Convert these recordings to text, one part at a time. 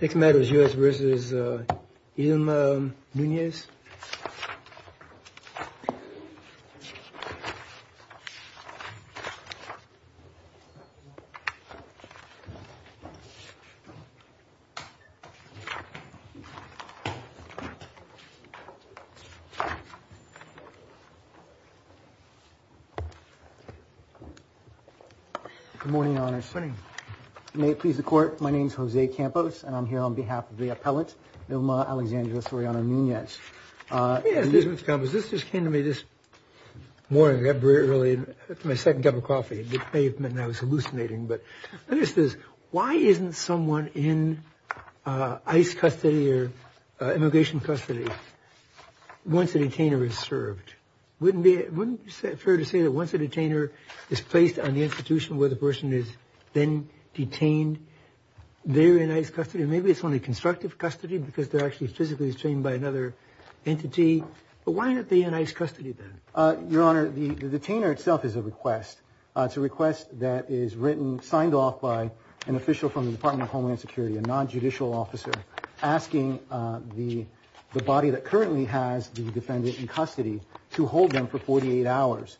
Next matter is U.S. v. Ilma Nunez. Good morning, Your Honor. Good morning. May it please the Court, my name is Jose Campos and I'm here on behalf of the appellant, Ilma Alexandria Soriano Nunez. Yes, Mr. Campos, this just came to me this morning, I got up very early, had my second cup of coffee, and I was hallucinating, but the question is, why isn't someone in ICE custody or immigration custody once a detainer is served? Wouldn't it be fair to say that once a detainer is placed on the institution where the person is then detained, they're in ICE custody? Maybe it's only constructive custody because they're actually physically detained by another entity, but why aren't they in ICE custody then? Your Honor, the detainer itself is a request. It's a request that is written, signed off by an official from the Department of Homeland Security, a non-judicial officer, asking the body that currently has the defendant in custody to hold them for 48 hours,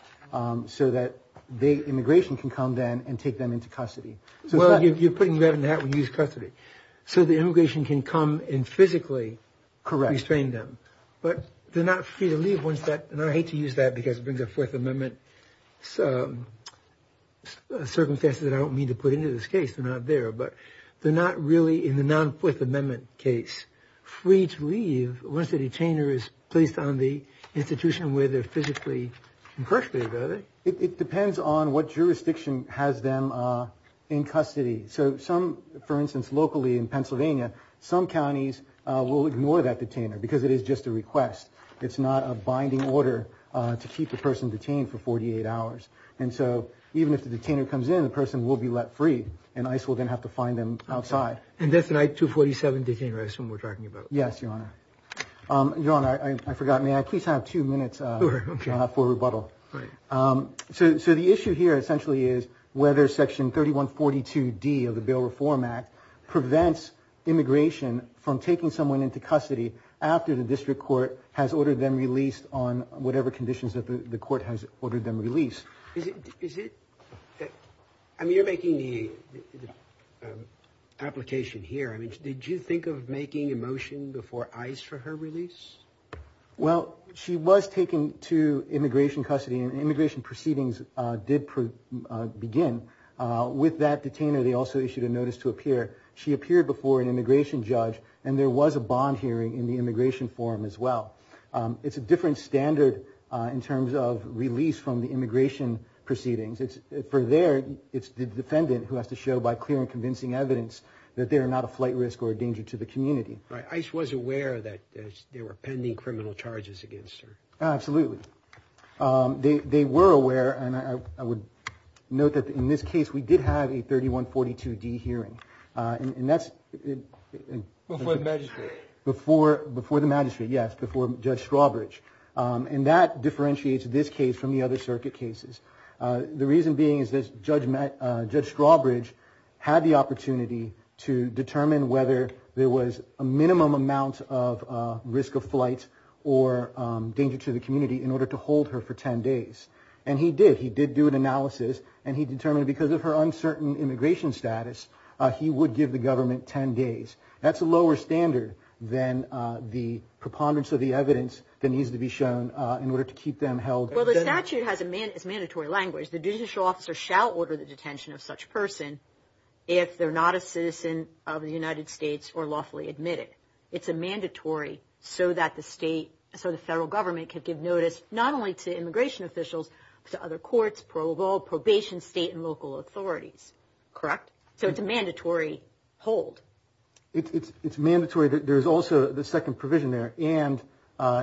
so that the immigration can come then and take them into custody. So you're putting them in that when you use custody, so the immigration can come and physically restrain them. Correct. But they're not free to leave once that, and I hate to use that because it brings up Fourth Amendment circumstances that I don't mean to put into this case, they're not there, but they're not really in the non-Fourth Amendment case free to leave once the detainer is placed on the institution where they're physically incarcerated, are they? It depends on what jurisdiction has them in custody. So some, for instance, locally in Pennsylvania, some counties will ignore that detainer because it is just a request. It's not a binding order to keep the person detained for 48 hours. And so even if the detainer comes in, the person will be let free, and ICE will then have to find them outside. And that's an I-247 detainer, I assume we're talking about. Yes, Your Honor. Your Honor, I forgot. May I please have two minutes, Your Honor, for rebuttal? So the issue here essentially is whether Section 3142D of the Bail Reform Act prevents immigration from taking someone into custody after the district court has ordered them released on whatever conditions that the court has ordered them released. I mean, you're making the application here. I mean, did you think of making a motion before ICE for her release? Well, she was taken to immigration custody, and immigration proceedings did begin. With that detainer, they also issued a notice to appear. She appeared before an immigration judge, and there was a bond hearing in the immigration forum as well. It's a different standard in terms of release from the immigration proceedings. For there, it's the defendant who has to show by clear and convincing evidence that they are not a flight risk or a danger to the community. Right. ICE was aware that there were pending criminal charges against her. Absolutely. They were aware, and I would note that in this case, we did have a 3142D hearing. And that's... Before the magistrate. Before the magistrate, yes, before Judge Strawbridge. And that differentiates this case from the other circuit cases. The reason being is that Judge Strawbridge had the opportunity to determine whether there was a minimum amount of risk of flight or danger to the community in order to hold her for 10 days. And he did. He did do an analysis, and he determined because of her uncertain immigration status, he would give the government 10 days. That's a lower standard than the preponderance of the evidence that needs to be shown in order to keep them held. Well, the statute has a mandatory language. The judicial officer shall order the detention of such person if they're not a citizen of the United States or lawfully admitted. It's a mandatory so that the state, so the federal government can give notice not only to immigration officials, but to other courts, parole, probation, state and local authorities. Correct? Correct. So it's a mandatory hold. It's mandatory. There's also the second provision there. And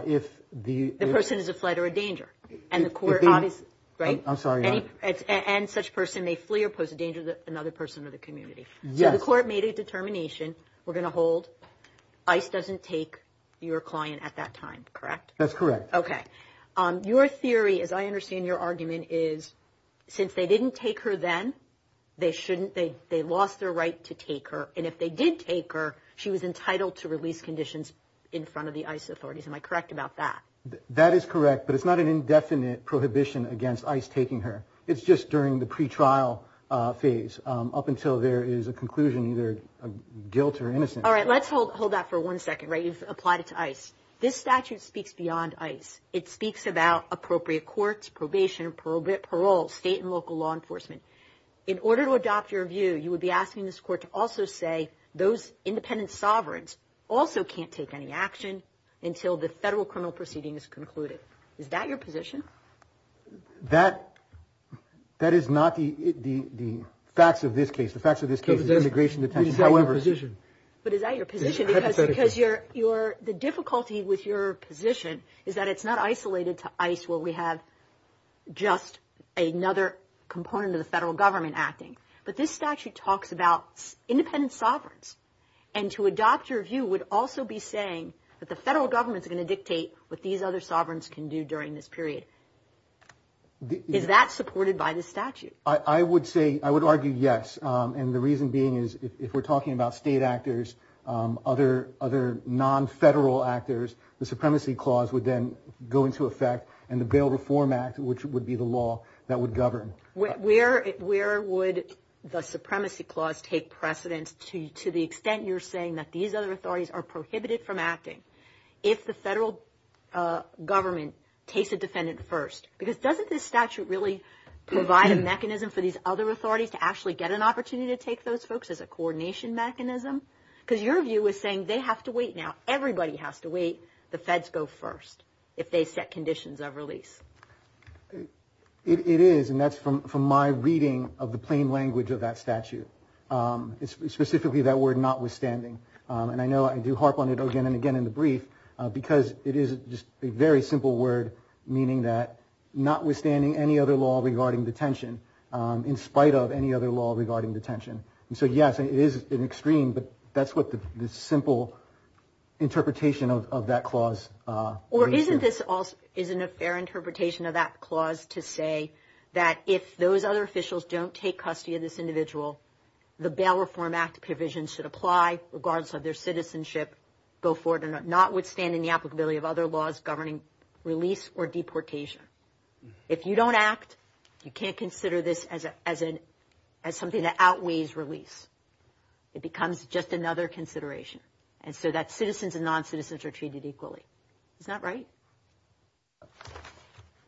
if the person is a flight or a danger, and the court obviously, right? I'm sorry. And such person may flee or pose a danger to another person or the community. So the court made a determination, we're going to hold. ICE doesn't take your client at that time, correct? That's correct. Okay. Your theory, as I understand your argument, is since they didn't take her then, they shouldn't, they lost their right to take her. And if they did take her, she was entitled to release conditions in front of the ICE authorities. Am I correct about that? That is correct. But it's not an indefinite prohibition against ICE taking her. It's just during the pretrial phase up until there is a conclusion, either guilt or innocence. All right. Let's hold that for one second, right? You've applied it to ICE. This statute speaks beyond ICE. It speaks about appropriate courts, probation, parole, state and local law enforcement. In order to adopt your view, you would be asking this court to also say those independent sovereigns also can't take any action until the federal criminal proceeding is concluded. Is that your position? That is not the facts of this case. The facts of this case is immigration detention, however. But is that your position? Because the difficulty with your position is that it's not isolated to ICE where we have just another component of the federal government acting. But this statute talks about independent sovereigns. And to adopt your view would also be saying that the federal government is going to dictate what these other sovereigns can do during this period. Is that supported by this statute? I would argue yes. And the reason being is if we're talking about state actors, other non-federal actors, the Supremacy Clause would then go into effect and the Bail Reform Act, which would be the law that would govern. Where would the Supremacy Clause take precedence to the extent you're saying that these other authorities are prohibited from acting if the federal government takes a defendant first? Because doesn't this statute really provide a mechanism for these other authorities to actually get an opportunity to take those folks as a coordination mechanism? Because your view is saying they have to wait now. Everybody has to wait. The feds go first if they set conditions of release. It is, and that's from my reading of the plain language of that statute, specifically that word notwithstanding. And I know I do harp on it again and again in the brief because it is just a very simple word, meaning that notwithstanding any other law regarding detention, in spite of any other law regarding detention. And so, yes, it is an extreme, but that's what the simple interpretation of that clause. Or isn't a fair interpretation of that clause to say that if those other officials don't take custody of this individual, the Bail Reform Act provisions should apply regardless of their citizenship, go forward and notwithstanding the applicability of other laws governing release or deportation. If you don't act, you can't consider this as something that outweighs release. It becomes just another consideration. And so that citizens and noncitizens are treated equally. Isn't that right?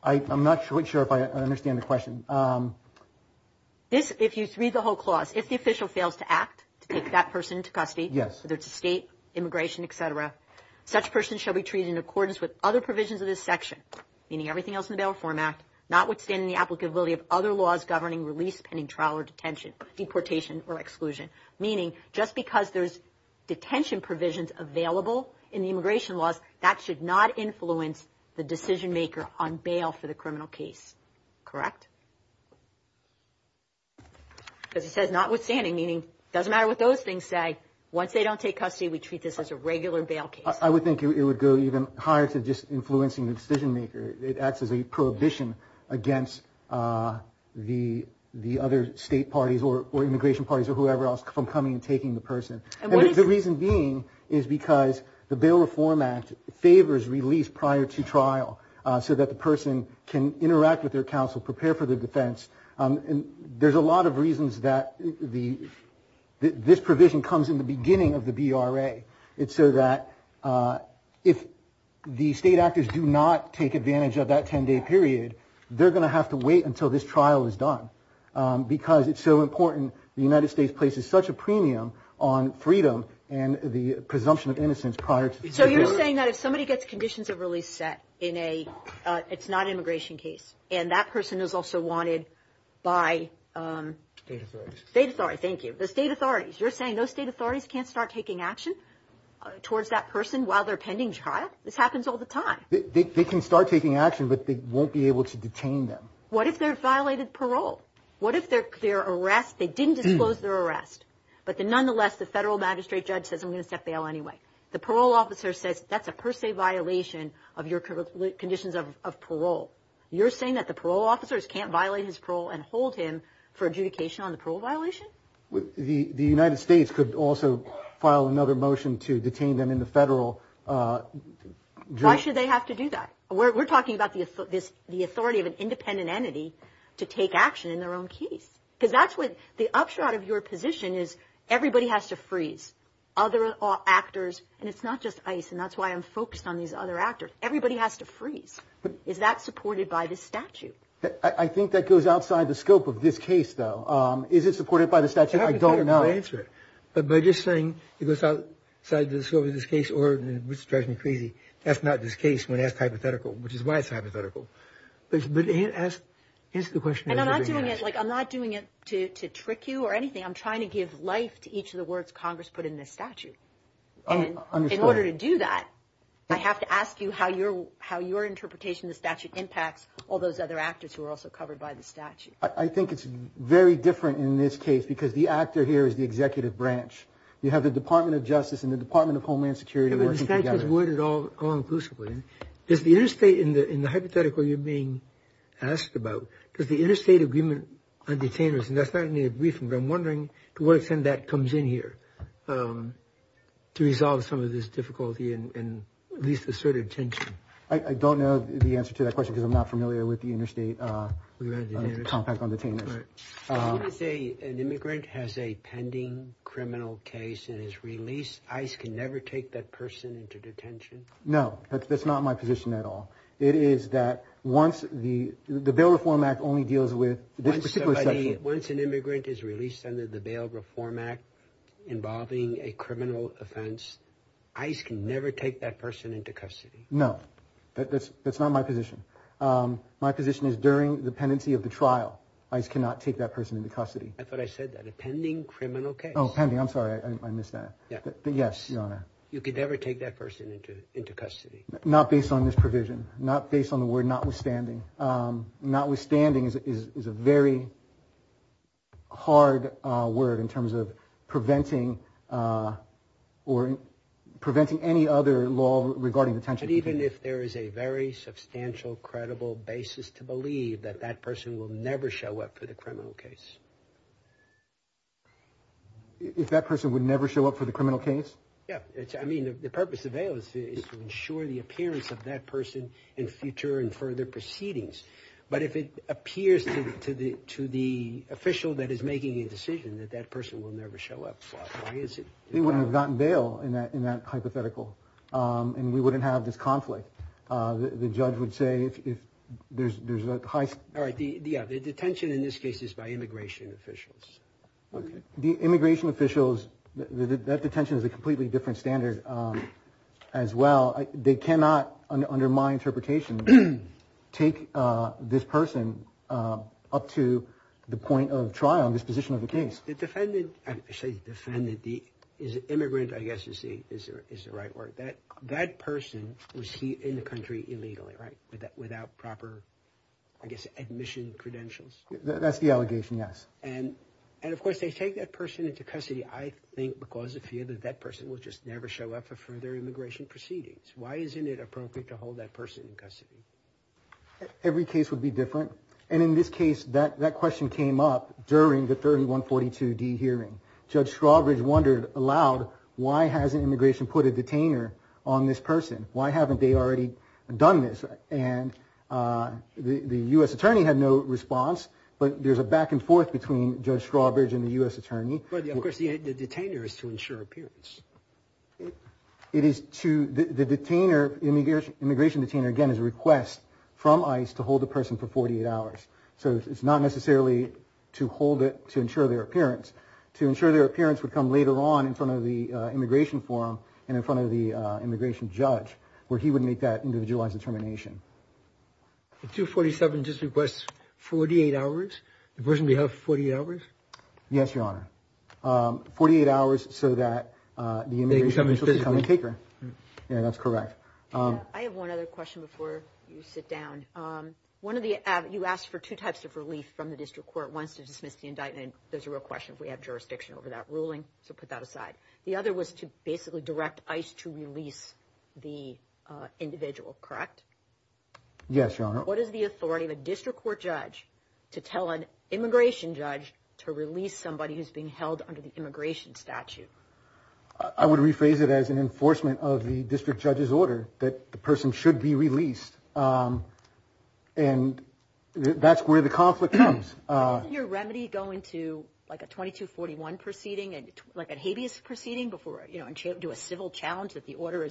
I'm not quite sure if I understand the question. If you read the whole clause, if the official fails to act to take that person to custody, whether it's a state, immigration, et cetera, such person shall be treated in accordance with other provisions of this section, meaning everything else in the Bail Reform Act, notwithstanding the applicability of other laws governing release pending trial or detention, deportation or exclusion, meaning just because there's detention provisions available in the immigration laws, that should not influence the decision maker on bail for the criminal case. Correct? As it says, notwithstanding, meaning it doesn't matter what those things say. Once they don't take custody, we treat this as a regular bail case. I would think it would go even higher to just influencing the decision maker. It acts as a prohibition against the other state parties or immigration parties or whoever else from coming and taking the person. And the reason being is because the Bail Reform Act favors release prior to trial so that the person can interact with their counsel, prepare for their defense. And there's a lot of reasons that this provision comes in the beginning of the BRA. It's so that if the state actors do not take advantage of that 10-day period, they're going to have to wait until this trial is done because it's so important. The United States places such a premium on freedom and the presumption of innocence prior to the trial. You're saying that if somebody gets conditions of release set, it's not an immigration case, and that person is also wanted by the state authorities. You're saying those state authorities can't start taking action towards that person while they're pending trial? This happens all the time. They can start taking action, but they won't be able to detain them. What if they violated parole? What if they didn't disclose their arrest, but nonetheless the federal magistrate judge says, I'm going to set bail anyway? The parole officer says, that's a per se violation of your conditions of parole. You're saying that the parole officers can't violate his parole and hold him for adjudication on the parole violation? The United States could also file another motion to detain them in the federal jail. Why should they have to do that? We're talking about the authority of an independent entity to take action in their own case. Because that's what the upshot of your position is everybody has to freeze. Other actors, and it's not just ICE, and that's why I'm focused on these other actors. Everybody has to freeze. Is that supported by this statute? I think that goes outside the scope of this case, though. Is it supported by the statute? I don't know. By just saying it goes outside the scope of this case, which drives me crazy, that's not this case when it's hypothetical, which is why it's hypothetical. Answer the question. I'm not doing it to trick you or anything. I'm trying to give life to each of the words Congress put in this statute. In order to do that, I have to ask you how your interpretation of the statute impacts all those other actors who are also covered by the statute. I think it's very different in this case because the actor here is the executive branch. You have the Department of Justice and the Department of Homeland Security working together. The statute is worded all inclusively. Is the interstate in the hypothetical you're being asked about, does the interstate agreement on detainers, and that's not in your briefing, but I'm wondering to what extent that comes in here to resolve some of this difficulty and at least assert attention. I don't know the answer to that question because I'm not familiar with the interstate compact on detainers. An immigrant has a pending criminal case and is released. ICE can never take that person into detention? No, that's not my position at all. It is that once the Bail Reform Act only deals with this particular section. Once an immigrant is released under the Bail Reform Act involving a criminal offense, ICE can never take that person into custody? No, that's not my position. My position is during the pendency of the trial, ICE cannot take that person into custody. I thought I said that, a pending criminal case. Oh, pending, I'm sorry, I missed that. Yes, Your Honor. You could never take that person into custody? Not based on this provision, not based on the word notwithstanding. Notwithstanding is a very hard word in terms of preventing or preventing any other law regarding detention. But even if there is a very substantial, credible basis to believe that that person will never show up for the criminal case? If that person would never show up for the criminal case? Yes, I mean the purpose of bail is to ensure the appearance of that person in future and further proceedings. But if it appears to the official that is making a decision that that person will never show up, why is it? They wouldn't have gotten bail in that hypothetical, and we wouldn't have this conflict. The judge would say if there's a high... All right, the detention in this case is by immigration officials. The immigration officials, that detention is a completely different standard as well. They cannot, under my interpretation, take this person up to the point of trial in this position of the case. The defendant, I say defendant, the immigrant I guess is the right word. That person was here in the country illegally, right? Without proper, I guess, admission credentials. That's the allegation, yes. And of course, they take that person into custody, I think, because of fear that that person will just never show up for further immigration proceedings. Why isn't it appropriate to hold that person in custody? Every case would be different. And in this case, that question came up during the 3142D hearing. Judge Strawbridge wondered aloud, why hasn't immigration put a detainer on this person? Why haven't they already done this? And the U.S. attorney had no response, but there's a back and forth between Judge Strawbridge and the U.S. attorney. But of course, the detainer is to ensure appearance. It is to, the detainer, immigration detainer, again, is a request from ICE to hold the person for 48 hours. So it's not necessarily to hold it to ensure their appearance. To ensure their appearance would come later on in front of the immigration forum and in front of the immigration judge, where he would make that individualized determination. The 247 just requests 48 hours, the person be held for 48 hours? Yes, Your Honor. 48 hours so that the immigration judge will become a taker. Yeah, that's correct. I have one other question before you sit down. One of the, you asked for two types of relief from the district court. One is to dismiss the indictment. There's a real question if we have jurisdiction over that ruling, so put that aside. The other was to basically direct ICE to release the individual, correct? Yes, Your Honor. What is the authority of a district court judge to tell an immigration judge to release somebody who's being held under the immigration statute? I would rephrase it as an enforcement of the district judge's order that the person should be released. And that's where the conflict comes. Doesn't your remedy go into like a 2241 proceeding, like a habeas proceeding before, you know, to a civil challenge that the order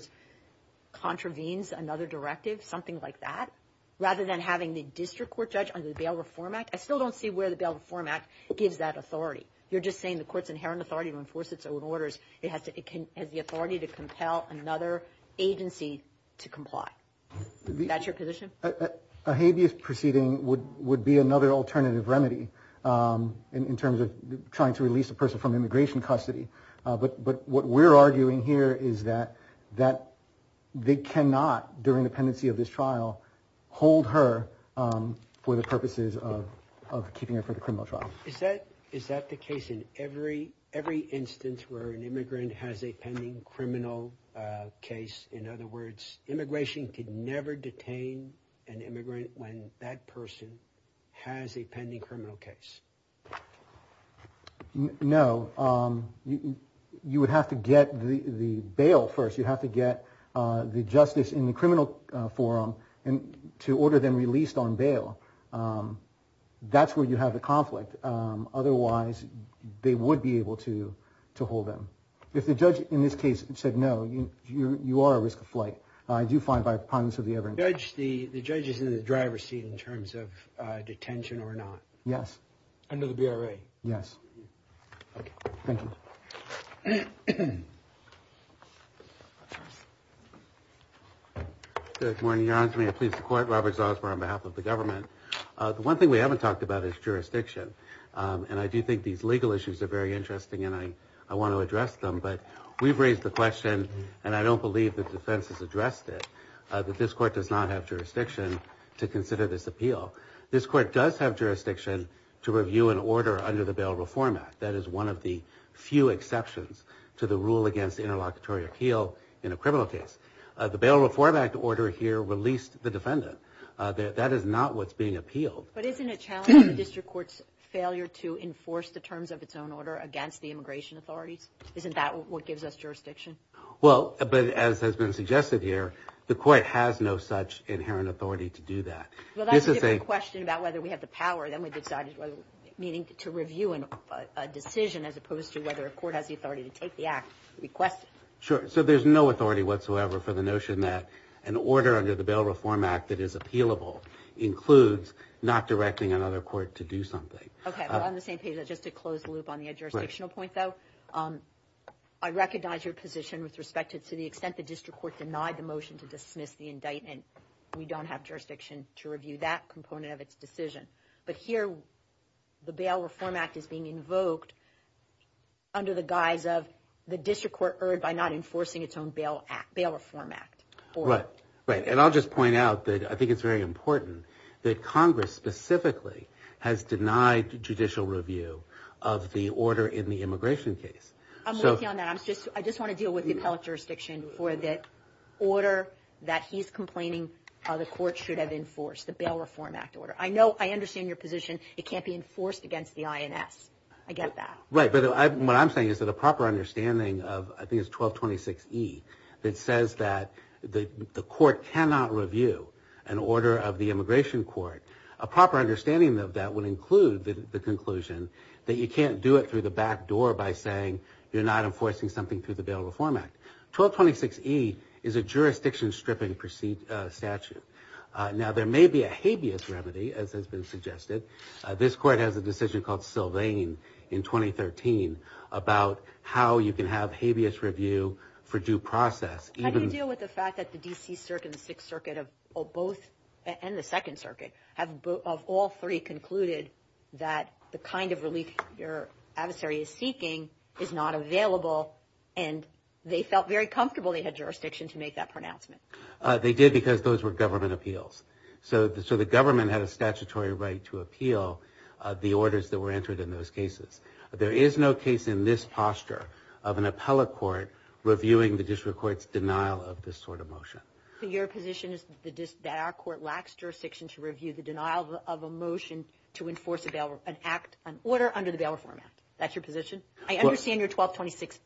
contravenes another directive, something like that, rather than having the district court judge under the Bail Reform Act? I still don't see where the Bail Reform Act gives that authority. You're just saying the court's inherent authority to enforce its own orders. It has the authority to compel another agency to comply. Is that your position? A habeas proceeding would be another alternative remedy in terms of trying to release a person from immigration custody. But what we're arguing here is that they cannot, during the pendency of this trial, hold her for the purposes of keeping her for the criminal trial. Is that the case in every instance where an immigrant has a pending criminal case? In other words, immigration could never detain an immigrant when that person has a pending criminal case. No. You would have to get the bail first. You'd have to get the justice in the criminal forum to order them released on bail. That's where you have the conflict. Otherwise, they would be able to hold them. If the judge, in this case, said no, you are at risk of flight. I do find, by prominence of the evidence. The judge is in the driver's seat in terms of detention or not? Yes. Under the BRA? Yes. Okay. Thank you. Good morning, Your Honor. May I please report? Robert Zalsper on behalf of the government. The one thing we haven't talked about is jurisdiction. I do think these legal issues are very interesting, and I want to address them. We've raised the question, and I don't believe the defense has addressed it, that this court does not have jurisdiction to consider this appeal. This court does have jurisdiction to review an order under the Bail Reform Act. That is one of the few exceptions to the rule against interlocutory appeal in a criminal case. The Bail Reform Act order here released the defendant. That is not what's being appealed. But isn't it challenging the district court's failure to enforce the terms of its own order against the immigration authorities? Isn't that what gives us jurisdiction? Well, but as has been suggested here, the court has no such inherent authority to do that. Well, that's a different question about whether we have the power. Then we decided, meaning to review a decision as opposed to whether a court has the authority to take the act, request it. Sure. So there's no authority whatsoever for the notion that an order under the Bail Reform Act that is appealable includes not directing another court to do something. Okay. On the same page, just to close the loop on the jurisdictional point, though, I recognize your position with respect to the extent the district court denied the motion to dismiss the indictment. We don't have jurisdiction to review that component of its decision. But here, the Bail Reform Act is being invoked under the guise of the district court erred by not enforcing its own Bail Reform Act. Right. And I'll just point out that I think it's very important that Congress specifically has denied judicial review of the order in the immigration case. I'm working on that. I just want to deal with the appellate jurisdiction for the order that he's complaining the court should have enforced, the Bail Reform Act order. I know, I understand your position. It can't be enforced against the INS. I get that. Right. But what I'm saying is that a proper understanding of, I think it's 1226E, that says that the court cannot review an order of the immigration court, a proper understanding of that would include the conclusion that you can't do it through the back door by saying you're not enforcing something through the Bail Reform Act. 1226E is a jurisdiction-stripping statute. Now, there may be a habeas remedy, as has been suggested. This court has a decision called Sylvain in 2013 about how you can have habeas review for due process. How do you deal with the fact that the D.C. Circuit and the Sixth Circuit and the Second Circuit have, of all three, concluded that the kind of relief your adversary is seeking is not available, and they felt very comfortable they had jurisdiction to make that pronouncement? They did because those were government appeals. So the government had a statutory right to appeal the orders that were entered in those cases. There is no case in this posture of an appellate court reviewing the district court's denial of this sort of motion. So your position is that our court lacks jurisdiction to review the denial of a motion to enforce an order under the Bail Reform Act. That's your position? I understand you're 1226E.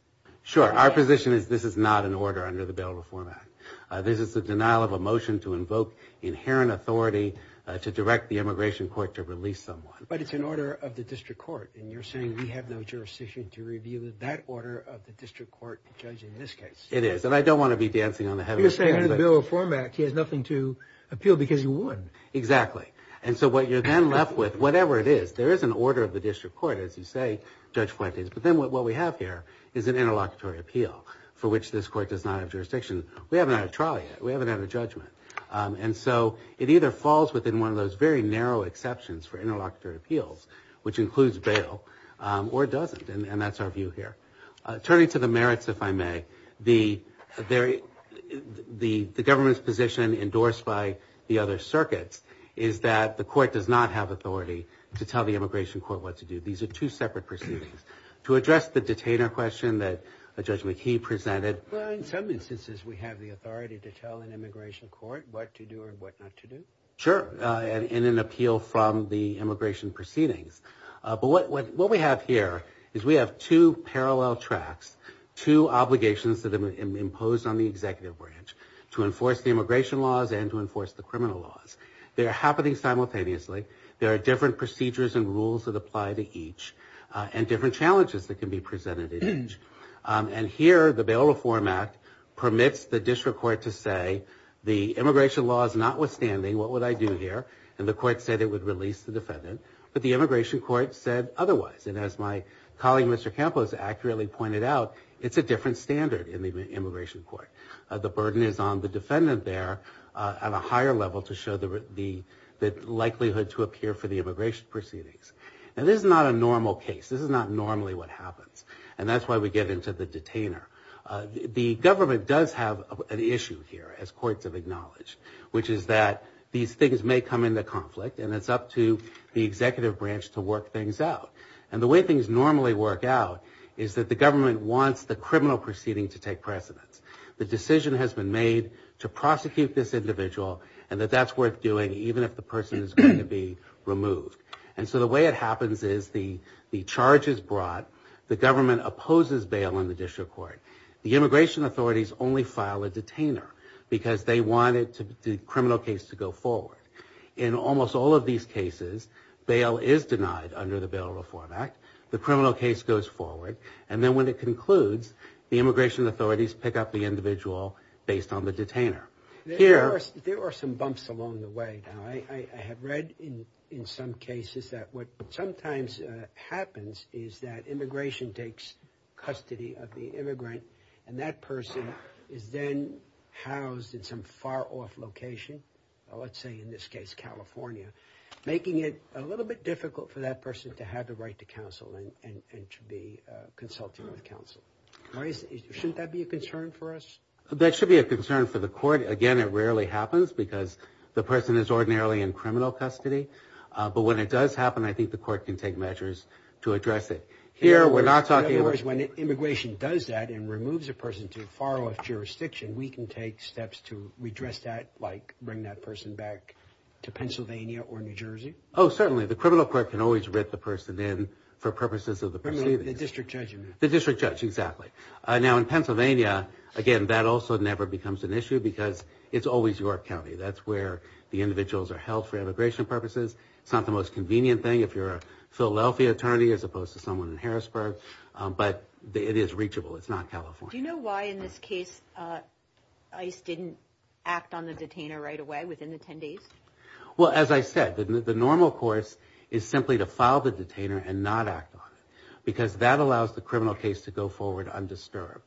Sure. Our position is this is not an order under the Bail Reform Act. This is the denial of a motion to invoke inherent authority to direct the immigration court to release someone. But it's an order of the district court, and you're saying we have no jurisdiction to review that order of the district court, judging this case. It is, and I don't want to be dancing on the head of this. You're saying under the Bail Reform Act, he has nothing to appeal because he would. Exactly. And so what you're then left with, whatever it is, there is an order of the district court, as you say, Judge Fuentes, but then what we have here is an interlocutory appeal for which this court does not have jurisdiction. We haven't had a trial yet. We haven't had a judgment. And so it either falls within one of those very narrow exceptions for interlocutory appeals, which includes bail, or it doesn't, and that's our view here. Turning to the merits, if I may, the government's position endorsed by the other circuits is that the court does not have authority to tell the immigration court what to do. These are two separate proceedings. To address the detainer question that Judge McKee presented. Well, in some instances, we have the authority to tell an immigration court what to do and what not to do. Sure, in an appeal from the immigration proceedings. But what we have here is we have two parallel tracks, two obligations that have been imposed on the executive branch to enforce the immigration laws and to enforce the criminal laws. They are happening simultaneously. There are different procedures and rules that apply to each and different challenges that can be presented in each. And here, the Bail Reform Act permits the district court to say the immigration law is notwithstanding. What would I do here? And the court said it would release the defendant. But the immigration court said otherwise. And as my colleague, Mr. Campos, accurately pointed out, it's a different standard in the immigration court. The burden is on the defendant there at a higher level to show the likelihood to appear for the immigration proceedings. And this is not a normal case. This is not normally what happens. And that's why we get into the detainer. The government does have an issue here, as courts have acknowledged, which is that these things may come into conflict. And it's up to the executive branch to work things out. And the way things normally work out is that the government wants the criminal proceeding to take precedence. The decision has been made to prosecute this individual and that that's worth doing, even if the person is going to be removed. And so the way it happens is the charge is brought. The government opposes bail in the district court. The immigration authorities only file a detainer because they want the criminal case to go forward. In almost all of these cases, bail is denied under the Bail Reform Act. The criminal case goes forward. And then when it concludes, the immigration authorities pick up the individual based on the detainer. There are some bumps along the way. I have read in some cases that what sometimes happens is that immigration takes custody of the immigrant. And that person is then housed in some far off location, let's say in this case California, making it a little bit difficult for that person to have the right to counsel and to be consulting with counsel. Shouldn't that be a concern for us? That should be a concern for the court. Again, it rarely happens because the person is ordinarily in criminal custody. But when it does happen, I think the court can take measures to address it. In other words, when immigration does that and removes a person to far off jurisdiction, we can take steps to redress that, like bring that person back to Pennsylvania or New Jersey? Oh, certainly. The criminal court can always write the person in for purposes of the proceeding. The district judge. The district judge, exactly. Now, in Pennsylvania, again, that also never becomes an issue because it's always York County. That's where the individuals are held for immigration purposes. It's not the most convenient thing if you're a Philadelphia attorney as opposed to someone in Harrisburg. But it is reachable. It's not California. Do you know why in this case ICE didn't act on the detainer right away, within the 10 days? Well, as I said, the normal course is simply to file the detainer and not act on it because that allows the criminal case to go forward undisturbed.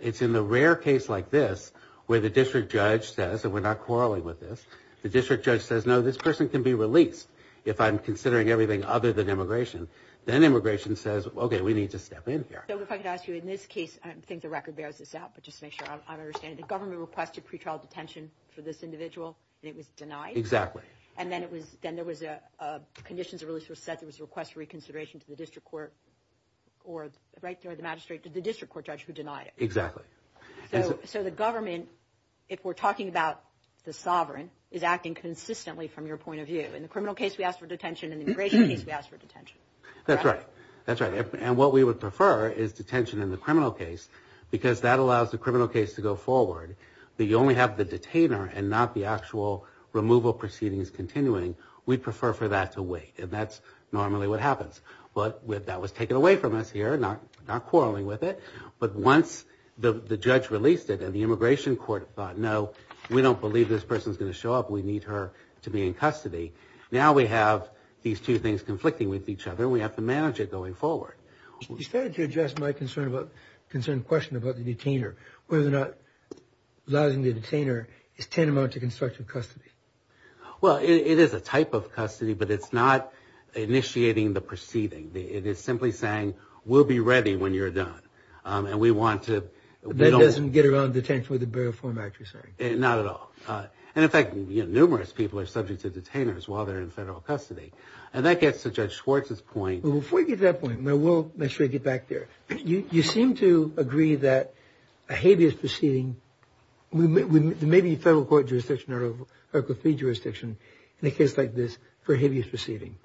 It's in the rare case like this where the district judge says, and we're not quarreling with this, the district judge says, no, this person can be released if I'm considering everything other than immigration. Then immigration says, okay, we need to step in here. So if I could ask you, in this case, I think the record bears this out, but just to make sure I understand it, the government requested pretrial detention for this individual and it was denied? Exactly. And then there was conditions of release were set. There was a request for reconsideration to the district court or the magistrate, the district court judge who denied it. Exactly. So the government, if we're talking about the sovereign, is acting consistently from your point of view. In the criminal case, we ask for detention. In the immigration case, we ask for detention. That's right. That's right. And what we would prefer is detention in the criminal case because that allows the criminal case to go forward. But you only have the detainer and not the actual removal proceedings continuing. We prefer for that to wait. And that's normally what happens. But that was taken away from us here, not quarreling with it. But once the judge released it and the immigration court thought, no, we don't believe this person is going to show up. We need her to be in custody. Now we have these two things conflicting with each other. We have to manage it going forward. You started to address my concerned question about the detainer, whether or not allowing the detainer is tantamount to constructive custody. Well, it is a type of custody, but it's not initiating the proceeding. It is simply saying, we'll be ready when you're done. And we want to. That doesn't get around detention with the burial form act, you're saying? Not at all. And, in fact, numerous people are subject to detainers while they're in federal custody. And that gets to Judge Schwartz's point. Before you get to that point, and I will make sure I get back there, you seem to agree that a habeas proceeding, there may be a federal court jurisdiction or a fee jurisdiction in a case like this for habeas proceeding.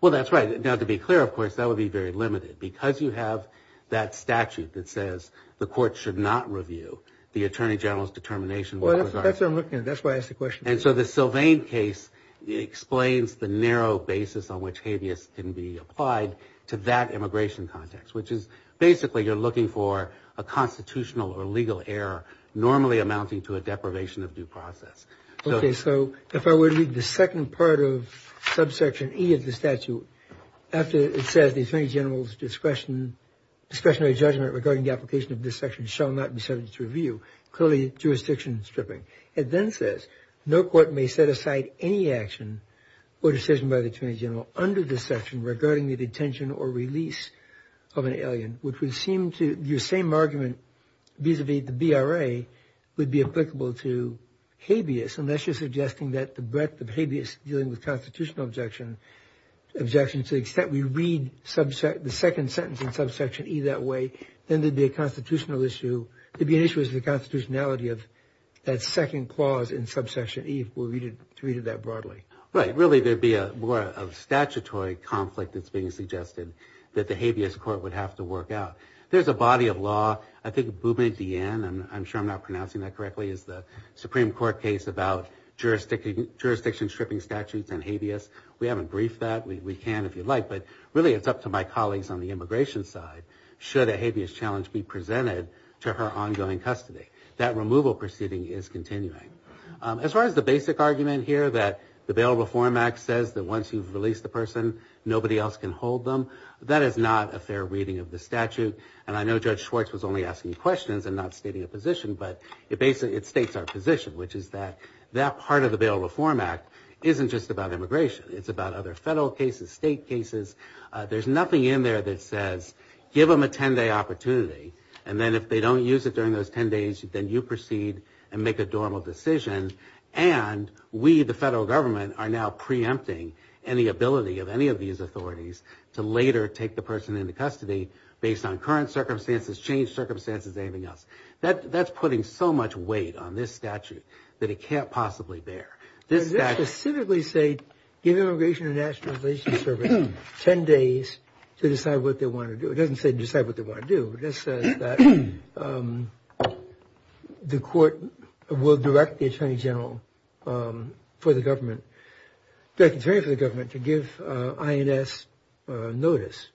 Well, that's right. Now, to be clear, of course, that would be very limited. Because you have that statute that says the court should not review the attorney general's determination. That's what I'm looking at. That's why I asked the question. And so the Sylvain case explains the narrow basis on which habeas can be applied to that immigration context, which is basically you're looking for a constitutional or legal error normally amounting to a deprivation of due process. Okay. So if I were to read the second part of subsection E of the statute, after it says the attorney general's discretionary judgment regarding the application of this section shall not be subject to review, clearly jurisdiction stripping. It then says no court may set aside any action or decision by the attorney general under this section regarding the detention or release of an alien, which would seem to your same argument vis-à-vis the BRA would be applicable to habeas, unless you're suggesting that the breadth of habeas dealing with constitutional objection, objection to the extent we read the second sentence in subsection E that way, then there'd be a constitutional issue. There'd be an issue with the constitutionality of that second clause in subsection E if we read it that broadly. Right. Really, there'd be more of a statutory conflict that's being suggested that the habeas court would have to work out. There's a body of law. I think Boumediene, and I'm sure I'm not pronouncing that correctly, is the Supreme Court case about jurisdiction stripping statutes and habeas. We haven't briefed that. We can if you'd like. But really, it's up to my colleagues on the immigration side. Should a habeas challenge be presented to her ongoing custody? That removal proceeding is continuing. As far as the basic argument here that the Bail Reform Act says that once you've released the person, nobody else can hold them, that is not a fair reading of the statute. And I know Judge Schwartz was only asking questions and not stating a position, but it states our position, which is that that part of the Bail Reform Act isn't just about immigration. It's about other federal cases, state cases. There's nothing in there that says give them a 10-day opportunity, and then if they don't use it during those 10 days, then you proceed and make a normal decision. And we, the federal government, are now preempting any ability of any of these authorities to later take the person into custody based on current circumstances, changed circumstances, anything else. That's putting so much weight on this statute that it can't possibly bear. Does this specifically say give Immigration and National Relations Service 10 days to decide what they want to do? It doesn't say decide what they want to do. It just says that the court will direct the Attorney General for the government, the Attorney for the government to give INS notice.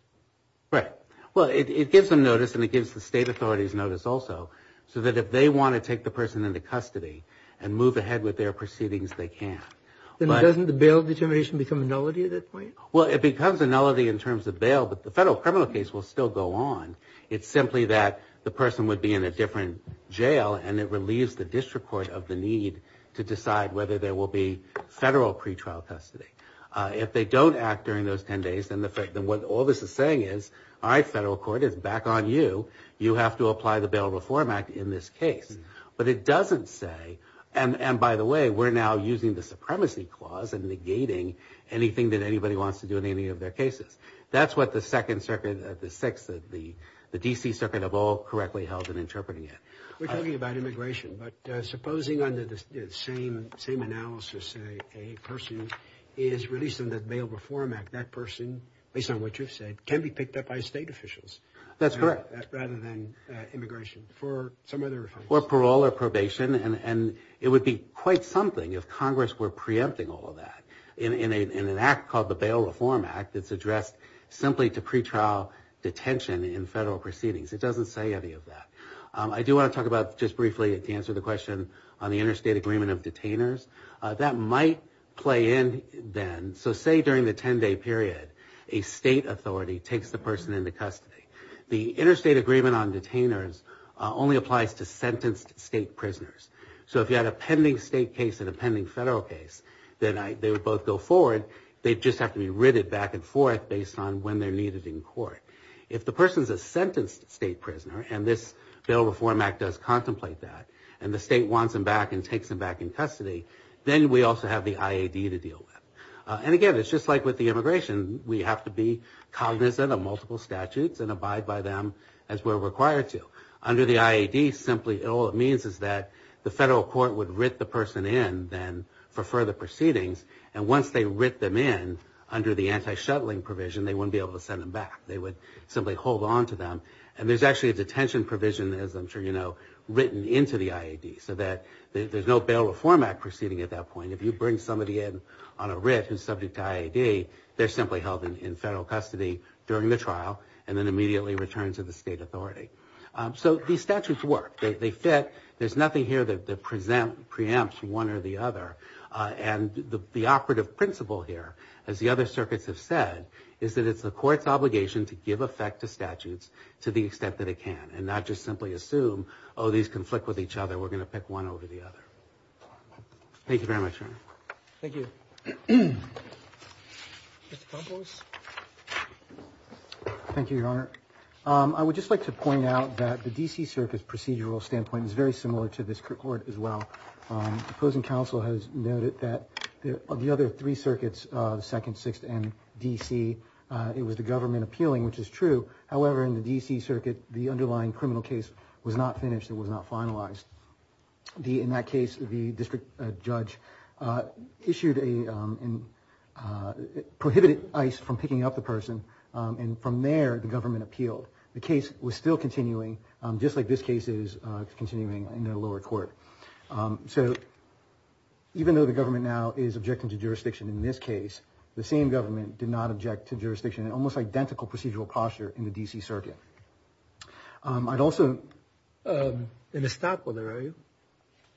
Right. Well, it gives them notice, and it gives the state authorities notice also, so that if they want to take the person into custody and move ahead with their proceedings, they can. Then doesn't the bail determination become a nullity at that point? Well, it becomes a nullity in terms of bail, but the federal criminal case will still go on. It's simply that the person would be in a different jail, and it relieves the district court of the need to decide whether there will be federal pretrial custody. If they don't act during those 10 days, then all this is saying is, all right, federal court, it's back on you. You have to apply the Bail Reform Act in this case. But it doesn't say, and by the way, we're now using the supremacy clause and negating anything that anybody wants to do in any of their cases. That's what the second circuit, the six, the D.C. circuit have all correctly held in interpreting it. We're talking about immigration, but supposing under the same analysis, a person is released under the Bail Reform Act, that person, based on what you've said, can be picked up by state officials. That's correct. Rather than immigration for some other reason. For parole or probation, and it would be quite something if Congress were preempting all of that. In an act called the Bail Reform Act, it's addressed simply to pretrial detention in federal proceedings. It doesn't say any of that. I do want to talk about, just briefly, to answer the question on the interstate agreement of detainers. That might play in then. So say during the 10-day period, a state authority takes the person into custody. The interstate agreement on detainers only applies to sentenced state prisoners. So if you had a pending state case and a pending federal case, then they would both go forward. They'd just have to be ridded back and forth based on when they're needed in court. If the person's a sentenced state prisoner, and this Bail Reform Act does contemplate that, and the state wants them back and takes them back in custody, then we also have the IAD to deal with. And again, it's just like with the immigration. We have to be cognizant of multiple statutes and abide by them as we're required to. Under the IAD, all it means is that the federal court would writ the person in then for further proceedings. And once they writ them in, under the anti-shuttling provision, they wouldn't be able to send them back. They would simply hold on to them. And there's actually a detention provision, as I'm sure you know, written into the IAD so that there's no Bail Reform Act proceeding at that point. If you bring somebody in on a writ who's subject to IAD, they're simply held in federal custody during the trial and then immediately returned to the state authority. So these statutes work. They fit. There's nothing here that preempts one or the other. And the operative principle here, as the other circuits have said, is that it's the court's obligation to give effect to statutes to the extent that it can, and not just simply assume, oh, these conflict with each other, we're going to pick one over the other. Thank you very much, Your Honor. Thank you. Mr. Campos. Thank you, Your Honor. I would just like to point out that the D.C. Circuit's procedural standpoint is very similar to this court as well. The opposing counsel has noted that of the other three circuits, the Second, Sixth, and D.C., it was the government appealing, which is true. However, in the D.C. Circuit, the underlying criminal case was not finished. It was not finalized. In that case, the district judge issued a – prohibited ICE from picking up the person, and from there the government appealed. The case was still continuing, just like this case is continuing in the lower court. So even though the government now is objecting to jurisdiction in this case, the same government did not object to jurisdiction, an almost identical procedural posture in the D.C. Circuit. I'd also – An estoppel there, are you?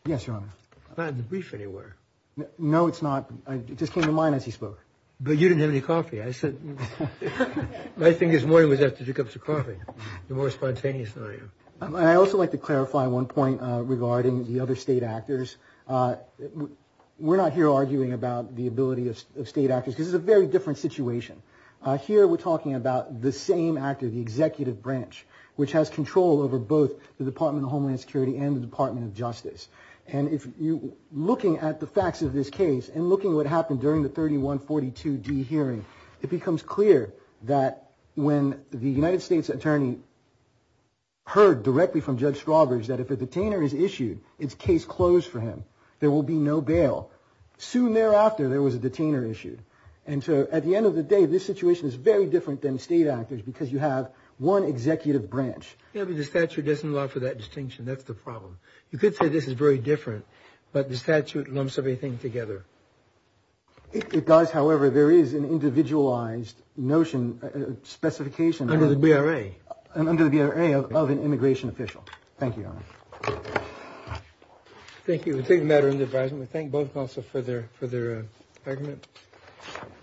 Yes, Your Honor. It's not in the brief anywhere. No, it's not. It just came to mind as he spoke. But you didn't have any coffee. I said – I think his morning was after two cups of coffee. You're more spontaneous than I am. I'd also like to clarify one point regarding the other state actors. We're not here arguing about the ability of state actors because this is a very different situation. Here we're talking about the same actor, the executive branch, which has control over both the Department of Homeland Security and the Department of Justice. And if you – looking at the facts of this case and looking at what happened during the 3142D hearing, it becomes clear that when the United States attorney heard directly from Judge Strawbridge that if a detainer is issued, it's case closed for him. There will be no bail. Soon thereafter, there was a detainer issued. And so at the end of the day, this situation is very different than state actors because you have one executive branch. Yeah, but the statute doesn't allow for that distinction. That's the problem. You could say this is very different, but the statute lumps everything together. It does, however. There is an individualized notion, specification – Under the BRA. Under the BRA of an immigration official. Thank you, Your Honor. Thank you. We take the matter under advisement. We thank both counsel for their argument. Thank you.